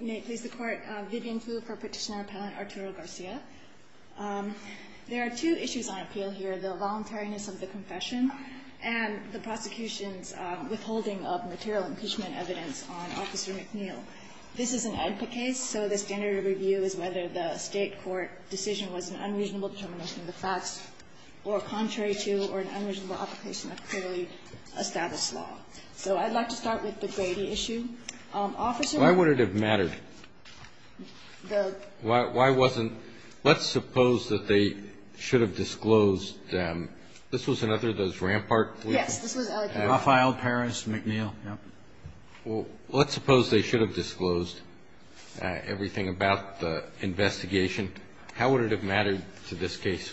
May it please the Court, Vivian Fu for Petitioner Appellant Arturo Garcia. There are two issues on appeal here. The voluntariness of the confession and the prosecution's withholding of material impeachment evidence on Officer McNeill. This is an EDPA case, so the standard of review is whether the state court decision was an unreasonable determination of the facts or contrary to or an unreasonable application of clearly established law. So I'd like to start with the Grady issue. Officer Why would it have mattered? The Why wasn't, let's suppose that they should have disclosed, this was another of those Rampart Yes, this was Rafael Perez McNeill, yeah. Well, let's suppose they should have disclosed everything about the investigation. How would it have mattered to this case?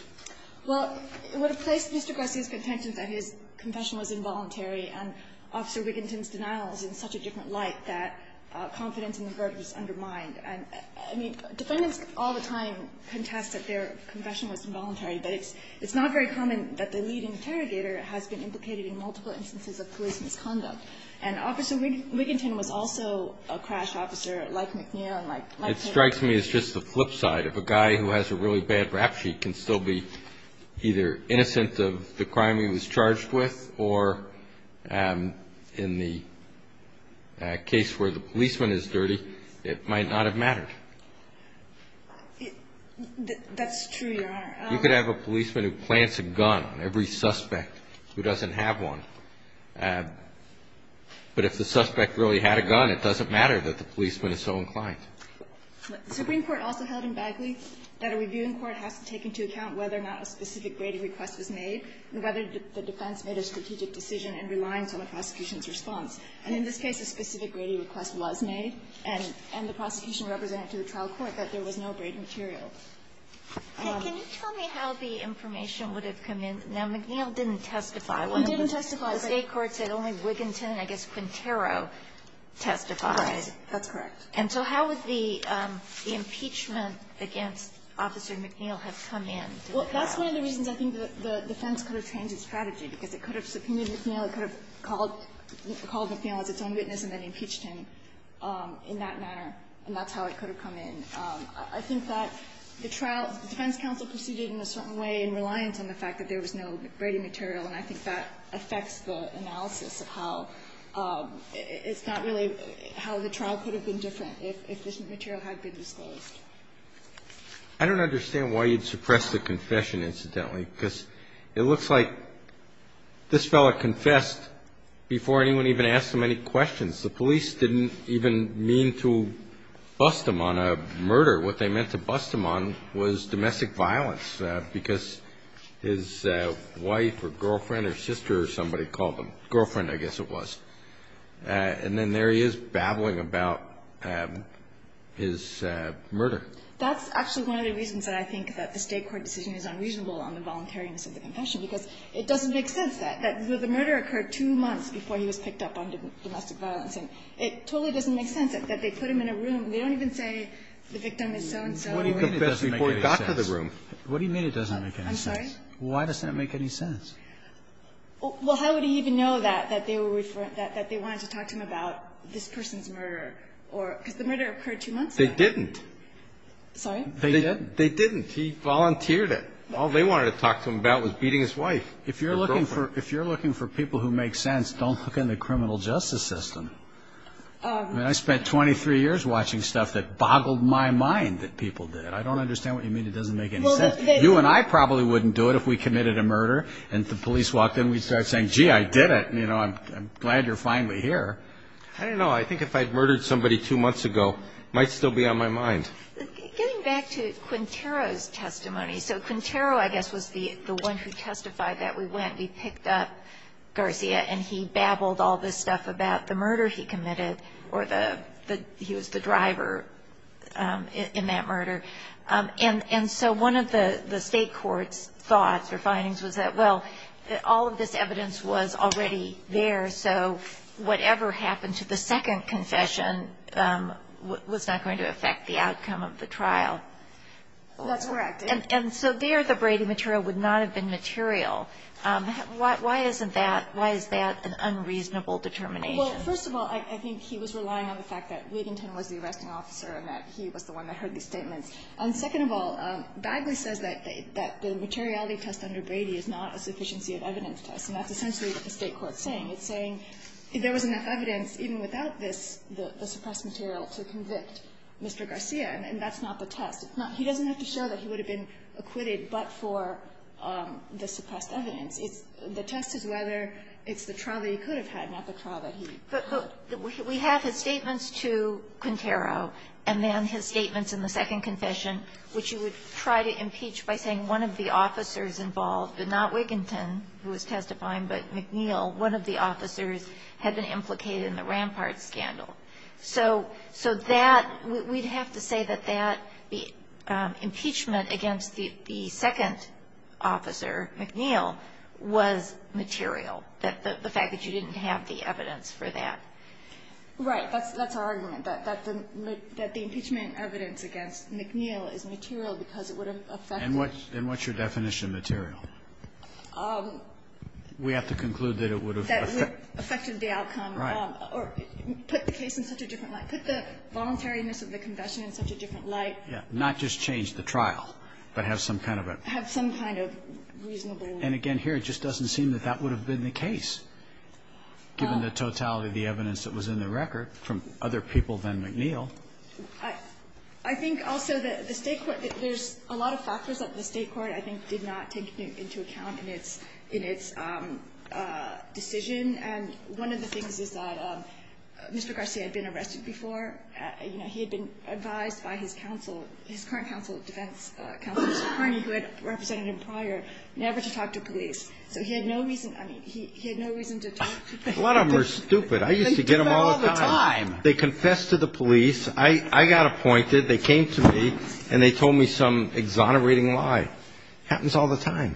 Well, it would have placed Mr. Garcia's contention that his confession was involuntary and Officer Wiginton's denial is in such a different light that confidence in the verdict is undermined. I mean, defendants all the time contest that their confession was involuntary, but it's not very common that the lead interrogator has been implicated in multiple instances of police misconduct. And Officer Wiginton was also a crash officer like McNeill and like It strikes me as just the flip side of a guy who has a really bad rap sheet can still be either innocent of the crime he was charged with or in the case where the policeman is dirty, it might not have mattered. That's true, Your Honor. You could have a policeman who plants a gun on every suspect who doesn't have one, but if the suspect really had a gun, it doesn't matter that the policeman is so inclined. The Supreme Court also held in Bagley that a reviewing court has to take into account whether or not a specific grading request was made and whether the defense made a strategic decision in reliance on the prosecution's response. And in this case, a specific grading request was made, and the prosecution represented to the trial court that there was no braiding material. Hey, can you tell me how the information would have come in? Now, McNeill didn't testify. He didn't testify. The state court said only Wiginton and I guess Quintero testified. That's correct. And so how would the impeachment against Officer McNeill have come in? Well, that's one of the reasons I think the defense could have changed its strategy, because it could have subpoenaed McNeill, it could have called McNeill as its own witness and then impeached him in that manner, and that's how it could have come in. I think that the trial, the defense counsel proceeded in a certain way in reliance on the fact that there was no braiding material, and I think that affects the analysis of how it's not really how the trial could have been different if this material had been disclosed. I don't understand why you'd suppress the confession, incidentally, because it looks like this fellow confessed before anyone even asked him any questions. The police didn't even mean to bust him on a murder. What they meant to bust him on was domestic violence, because his wife or girlfriend or sister or somebody called him, girlfriend I guess it was, and then there he is babbling about his murder. That's actually one of the reasons that I think that the State court decision is unreasonable on the voluntariness of the confession, because it doesn't make sense that the murder occurred two months before he was picked up on domestic violence, and it totally doesn't make sense that they put him in a room, they don't even say the victim is so-and-so who confessed before he got to the room. What do you mean it doesn't make any sense? I'm sorry? Why does that make any sense? Well, how would he even know that they wanted to talk to him about this person's murder? Because the murder occurred two months ago. They didn't. Sorry? They didn't. They didn't. He volunteered it. All they wanted to talk to him about was beating his wife or girlfriend. If you're looking for people who make sense, don't look in the criminal justice system. I spent 23 years watching stuff that boggled my mind that people did. I don't understand what you mean it doesn't make any sense. You and I probably wouldn't do it if we committed a murder and the police walked in, we'd start saying, gee, I did it, and, you know, I'm glad you're finally here. I don't know. I think if I'd murdered somebody two months ago, it might still be on my mind. Getting back to Quintero's testimony, so Quintero, I guess, was the one who testified that we went, we picked up Garcia, and he babbled all this stuff about the murder he committed or that he was the driver in that murder. And so one of the state court's thoughts or findings was that, well, all of this evidence was already there, so whatever happened to the second confession was not going to affect the outcome of the trial. That's correct. And so there the Brady material would not have been material. Why isn't that, why is that an unreasonable determination? Well, first of all, I think he was relying on the fact that Leadington was the arresting officer and that he was the one that heard these statements. And second of all, Bagley says that the materiality test under Brady is not a sufficiency of evidence test, and that's essentially what the state court's saying. It's saying if there was enough evidence even without this, the suppressed material, to convict Mr. Garcia, and that's not the test. It's not, he doesn't have to show that he would have been acquitted but for the suppressed evidence. It's, the test is whether it's the trial that he could have had, not the trial that he could have had. We have his statements to Quintero, and then his statements in the second confession, which he would try to impeach by saying one of the officers involved, but not Wiginton, who was testifying, but McNeil, one of the officers had been implicated in the Rampart scandal. So that, we'd have to say that that impeachment against the second officer, McNeil, was material, the fact that you didn't have the evidence for that. Right. That's our argument, that the impeachment evidence against McNeil is material because it would have affected. And what's your definition of material? We have to conclude that it would have affected the outcome. Right. Or put the case in such a different light. Put the voluntariness of the confession in such a different light. Yeah. Not just change the trial, but have some kind of a. Have some kind of reasonable. And again, here, it just doesn't seem that that would have been the case, given the totality of the evidence that was in the record from other people than McNeil. I think also that the state court, there's a lot of factors that the state court, I think, did not take into account in its decision. And one of the things is that Mr. Garcia had been arrested before. You know, he had been advised by his counsel, his current counsel of defense, who had represented him prior, never to talk to police. So he had no reason, I mean, he had no reason to talk to police. A lot of them are stupid. I used to get them all the time. They do that all the time. They confess to the police. I got appointed. They came to me, and they told me some exonerating lie. Happens all the time.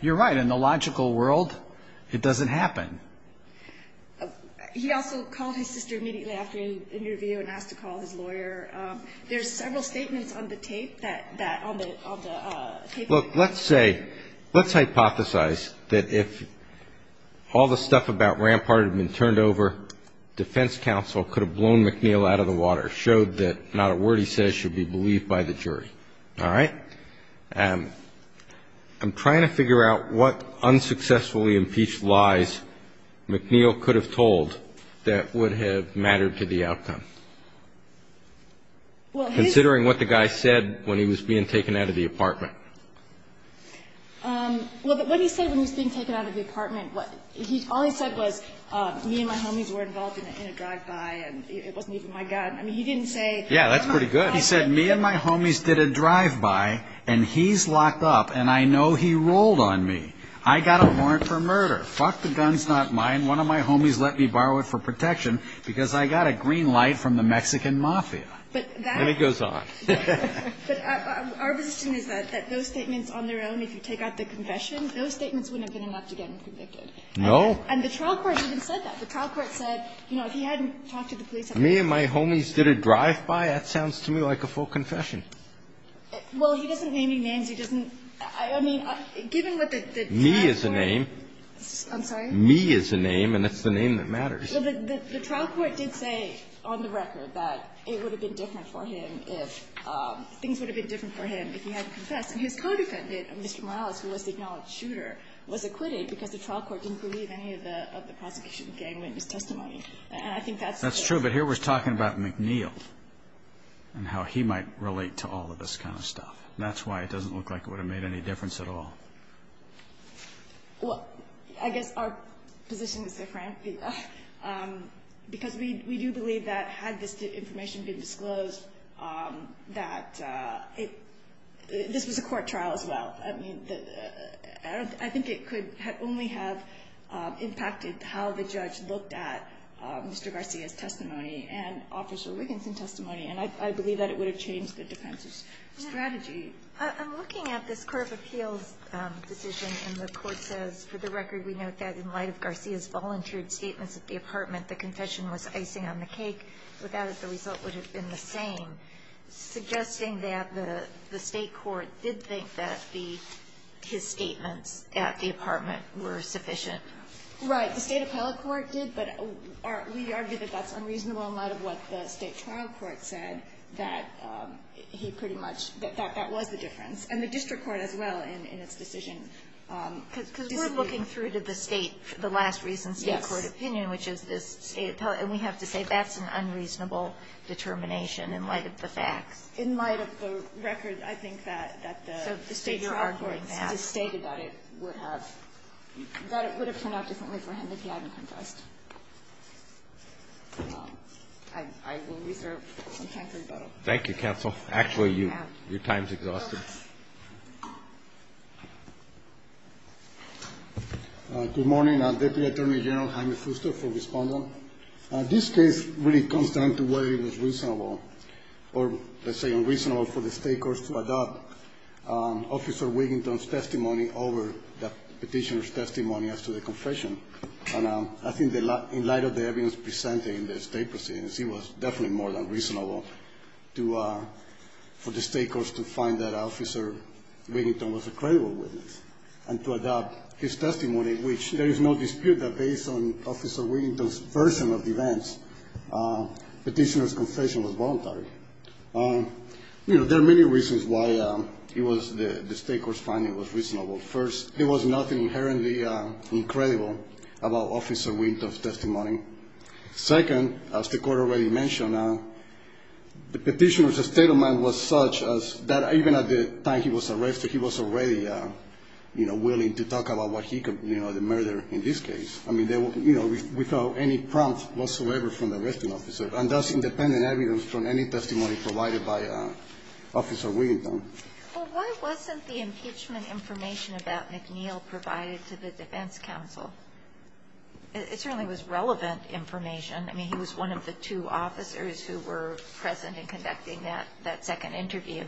You're right. In the logical world, it doesn't happen. He also called his sister immediately after the interview and asked to call his lawyer. There's several statements on the tape that, on the tape. Look, let's say, let's hypothesize that if all the stuff about Rampart had been turned over, defense counsel could have blown McNeil out of the water, showed that not a word he says should be believed by the jury. All right? I'm trying to figure out what unsuccessfully impeached lies McNeil could have told that would have mattered to the outcome, considering what the guy said when he was being taken out of the apartment. Well, what he said when he was being taken out of the apartment, all he said was, me and my homies were involved in a drive-by, and it wasn't even my gun. I mean, he didn't say. Yeah, that's pretty good. He said, me and my homies did a drive-by, and he's locked up, and I know he rolled on me. I got a warrant for murder. Fuck, the gun's not mine. One of my homies let me borrow it for protection because I got a green light from the Mexican mafia. And it goes on. But our position is that those statements on their own, if you take out the confession, those statements wouldn't have been enough to get him convicted. No. And the trial court even said that. The trial court said, you know, if he hadn't talked to the police. Me and my homies did a drive-by? That sounds to me like a full confession. Well, he doesn't name any names. He doesn't. I mean, given what the trial court. Me is a name. I'm sorry? Me is a name, and that's the name that matters. Well, the trial court did say on the record that it would have been different for him if, things would have been different for him if he hadn't confessed. And his co-defendant, Mr. Morales, who was the acknowledged shooter, was acquitted because the trial court didn't believe any of the prosecution gang witness testimony. And I think that's... That's true. But here we're talking about McNeil and how he might relate to all of this kind of stuff. That's why it doesn't look like it would have made any difference at all. Well, I guess our position is different because we do believe that had this information been disclosed, that this was a court trial as well. I mean, I think it could only have impacted how the judge looked at Mr. Garcia's testimony and Officer Wiggins' testimony, and I believe that it would have changed the defense's strategy. I'm looking at this court of appeals decision, and the court says, for the record, we note that in light of Garcia's volunteered statements at the apartment, the confession was icing on the cake. Without it, the result would have been the same, suggesting that the state court did think that his statements at the apartment were sufficient. Right. The state appellate court did, but we argue that that's unreasonable in light of what the state trial court said, that he pretty much, that that was the difference. And the district court as well in its decision. Because we're looking through to the state, the last recent state court opinion, which is this state appellate, and we have to say that's an unreasonable determination in light of the facts. In light of the record, I think that the state trial court stated that it would have, that it would have turned out differently for him if he hadn't confessed. I will reserve some time for rebuttal. Thank you, counsel. Actually, your time's exhausted. Good morning. I'm Deputy Attorney General Jaime Fuster for Respondent. This case really comes down to whether it was reasonable or, let's say, unreasonable for the state courts to adopt Officer Wiginton's testimony over the Petitioner's testimony as to the confession. And I think in light of the evidence presented in the state proceedings, it was definitely more than reasonable for the state courts to find that Officer Wiginton was a credible witness and to adopt his testimony, which there is no dispute that based on Officer Wiginton's version of events, Petitioner's confession was voluntary. You know, there are many reasons why the state court's finding was reasonable. First, there was nothing inherently incredible about Officer Wiginton's testimony. Second, as the court already mentioned, the Petitioner's statement was such that even at the time he was arrested, he was already, you know, willing to talk about what he could, you know, the murder in this case. I mean, you know, without any prompt whatsoever from the arresting officer and thus independent evidence from any testimony provided by Officer Wiginton. Well, why wasn't the impeachment information about McNeil provided to the defense counsel? It certainly was relevant information. I mean, he was one of the two officers who were present in conducting that second interview.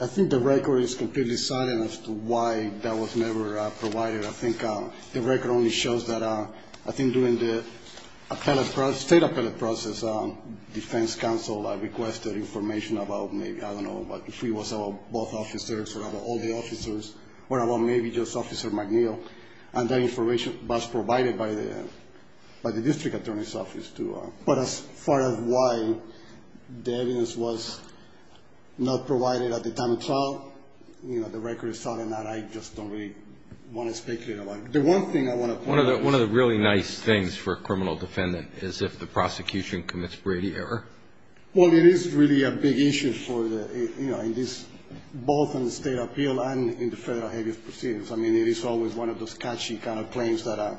I think the record is completely silent as to why that was never provided. I think the record only shows that I think during the state appellate process, defense counsel requested information about maybe, I don't know, if he was both officers or about all the officers or about maybe just Officer McNeil, and that information was provided by the district attorney's office. But as far as why the evidence was not provided at the time of trial, you know, the record is silent. I just don't really want to speculate about it. One of the really nice things for a criminal defendant is if the prosecution commits Brady error. Well, it is really a big issue for the, you know, both in the state appeal and in the federal habeas proceedings. I mean, it is always one of those catchy kind of claims that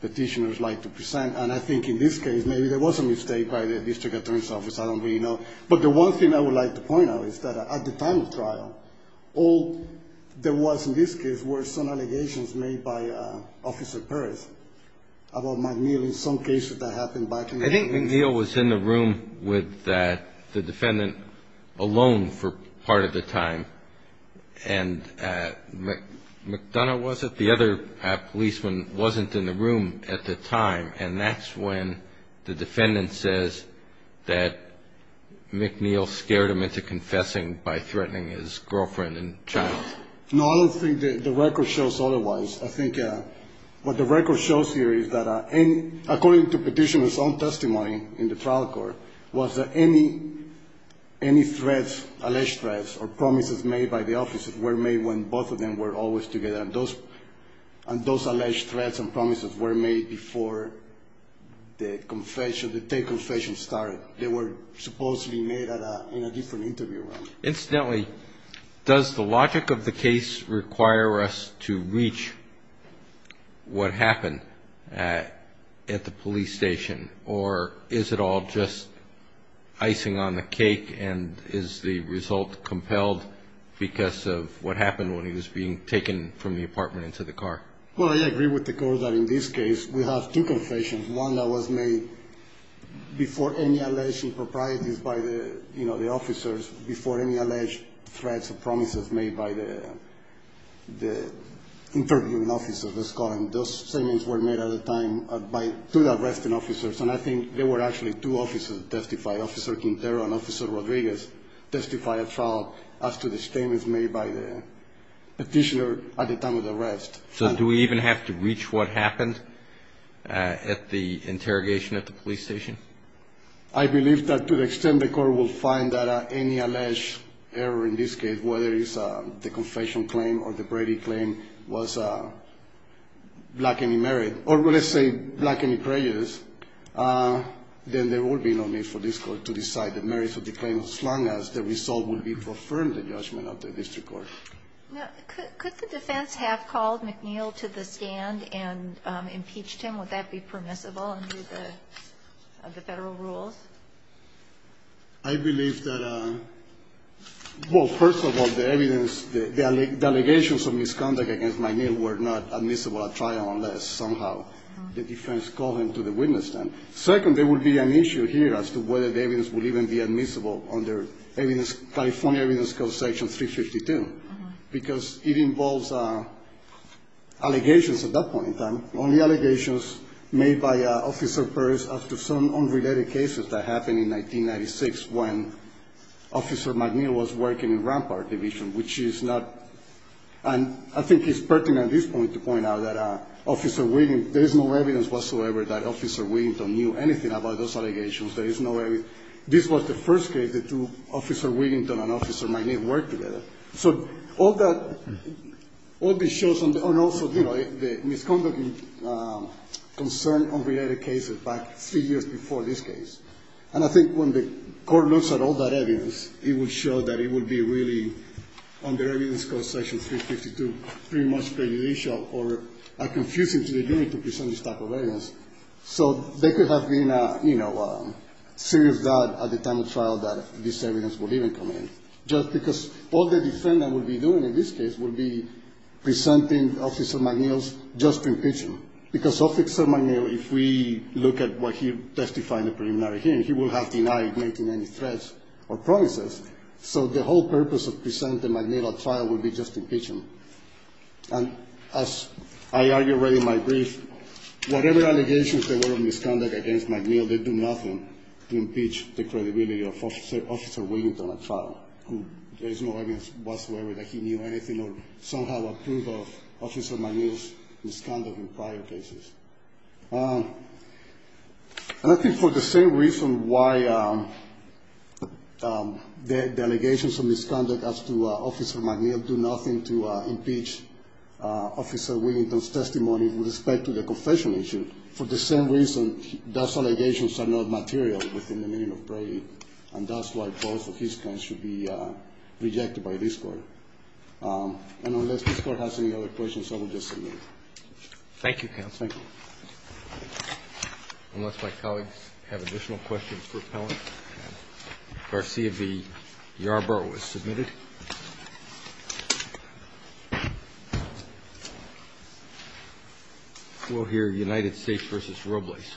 petitioners like to present, and I think in this case maybe there was a mistake by the district attorney's office. I don't really know. But the one thing I would like to point out is that at the time of trial, all there was in this case were some allegations made by Officer Perez about McNeil in some cases that happened back in the day. I think McNeil was in the room with the defendant alone for part of the time, and McDonough was it? The other policeman wasn't in the room at the time, and that's when the defendant says that McNeil scared him into confessing by threatening his girlfriend and child. No, I don't think the record shows otherwise. I think what the record shows here is that according to petitioner's own testimony in the trial court, was that any threats, alleged threats, or promises made by the officers were made when both of them were always together, and those alleged threats and promises were made before the confession, the day confession started. They were supposed to be made in a different interview. Incidentally, does the logic of the case require us to reach what happened at the police station, or is it all just icing on the cake, and is the result compelled because of what happened when he was being taken from the apartment into the car? Well, I agree with the court that in this case we have two confessions, one that was made before any alleged improprieties by the officers, before any alleged threats or promises made by the interviewing officers, let's call them. Those statements were made at the time by two of the arresting officers, and I think there were actually two officers that testified, Officer Quintero and Officer Rodriguez testified at trial after the statements made by the petitioner at the time of the arrest. So do we even have to reach what happened at the interrogation at the police station? I believe that to the extent the court will find that any alleged error in this case, whether it's the confession claim or the Brady claim was lacking in merit, or let's say lacking in prejudice, then there will be no need for this court to decide the merits of the claim as long as the result will be confirmed in judgment of the district court. Could the defense have called McNeil to the stand and impeached him? Would that be permissible under the Federal rules? I believe that, well, first of all, the evidence, the allegations of misconduct against McNeil were not admissible at trial unless somehow the defense called him to the witness stand. Second, there would be an issue here as to whether the evidence would even be admissible under California Evidence Code Section 352 because it involves allegations at that point in time, only allegations made by Officer Burris after some unrelated cases that happened in 1996 when Officer McNeil was working in Rampart Division, which is not, and I think it's pertinent at this point to point out that Officer Williams, there is no evidence whatsoever that Officer Williams knew anything about those allegations. There is no evidence. This was the first case that Officer Williams and Officer McNeil worked together. So all that, all this shows, and also, you know, the misconduct concern unrelated cases back three years before this case. And I think when the court looks at all that evidence, it will show that it would be really, under Evidence Code Section 352, pretty much prejudicial or confusing to the jury to present this type of evidence. So there could have been, you know, serious doubt at the time of trial that this evidence would even come in just because all the defendant would be doing in this case would be presenting Officer McNeil's just impeachment because Officer McNeil, if we look at what he testified in the preliminary hearing, he would have denied making any threats or promises. So the whole purpose of presenting McNeil at trial would be just impeachment. And as I argued already in my brief, whatever allegations there were of misconduct against McNeil, they do nothing to impeach the credibility of Officer Williams on a trial. There is no evidence whatsoever that he knew anything or somehow approved of Officer McNeil's misconduct in prior cases. And I think for the same reason why the allegations of misconduct as to Officer McNeil do nothing to impeach Officer Williams' testimony with respect to the confession issue, for the same reason those allegations are not material within the meaning of Brady. And that's why both of his claims should be rejected by this Court. And unless this Court has any other questions, I will just submit. Thank you, counsel. Thank you. Unless my colleagues have additional questions for Appellant. Garcia v. Yarbrough is submitted. We'll hear United States v. Robles.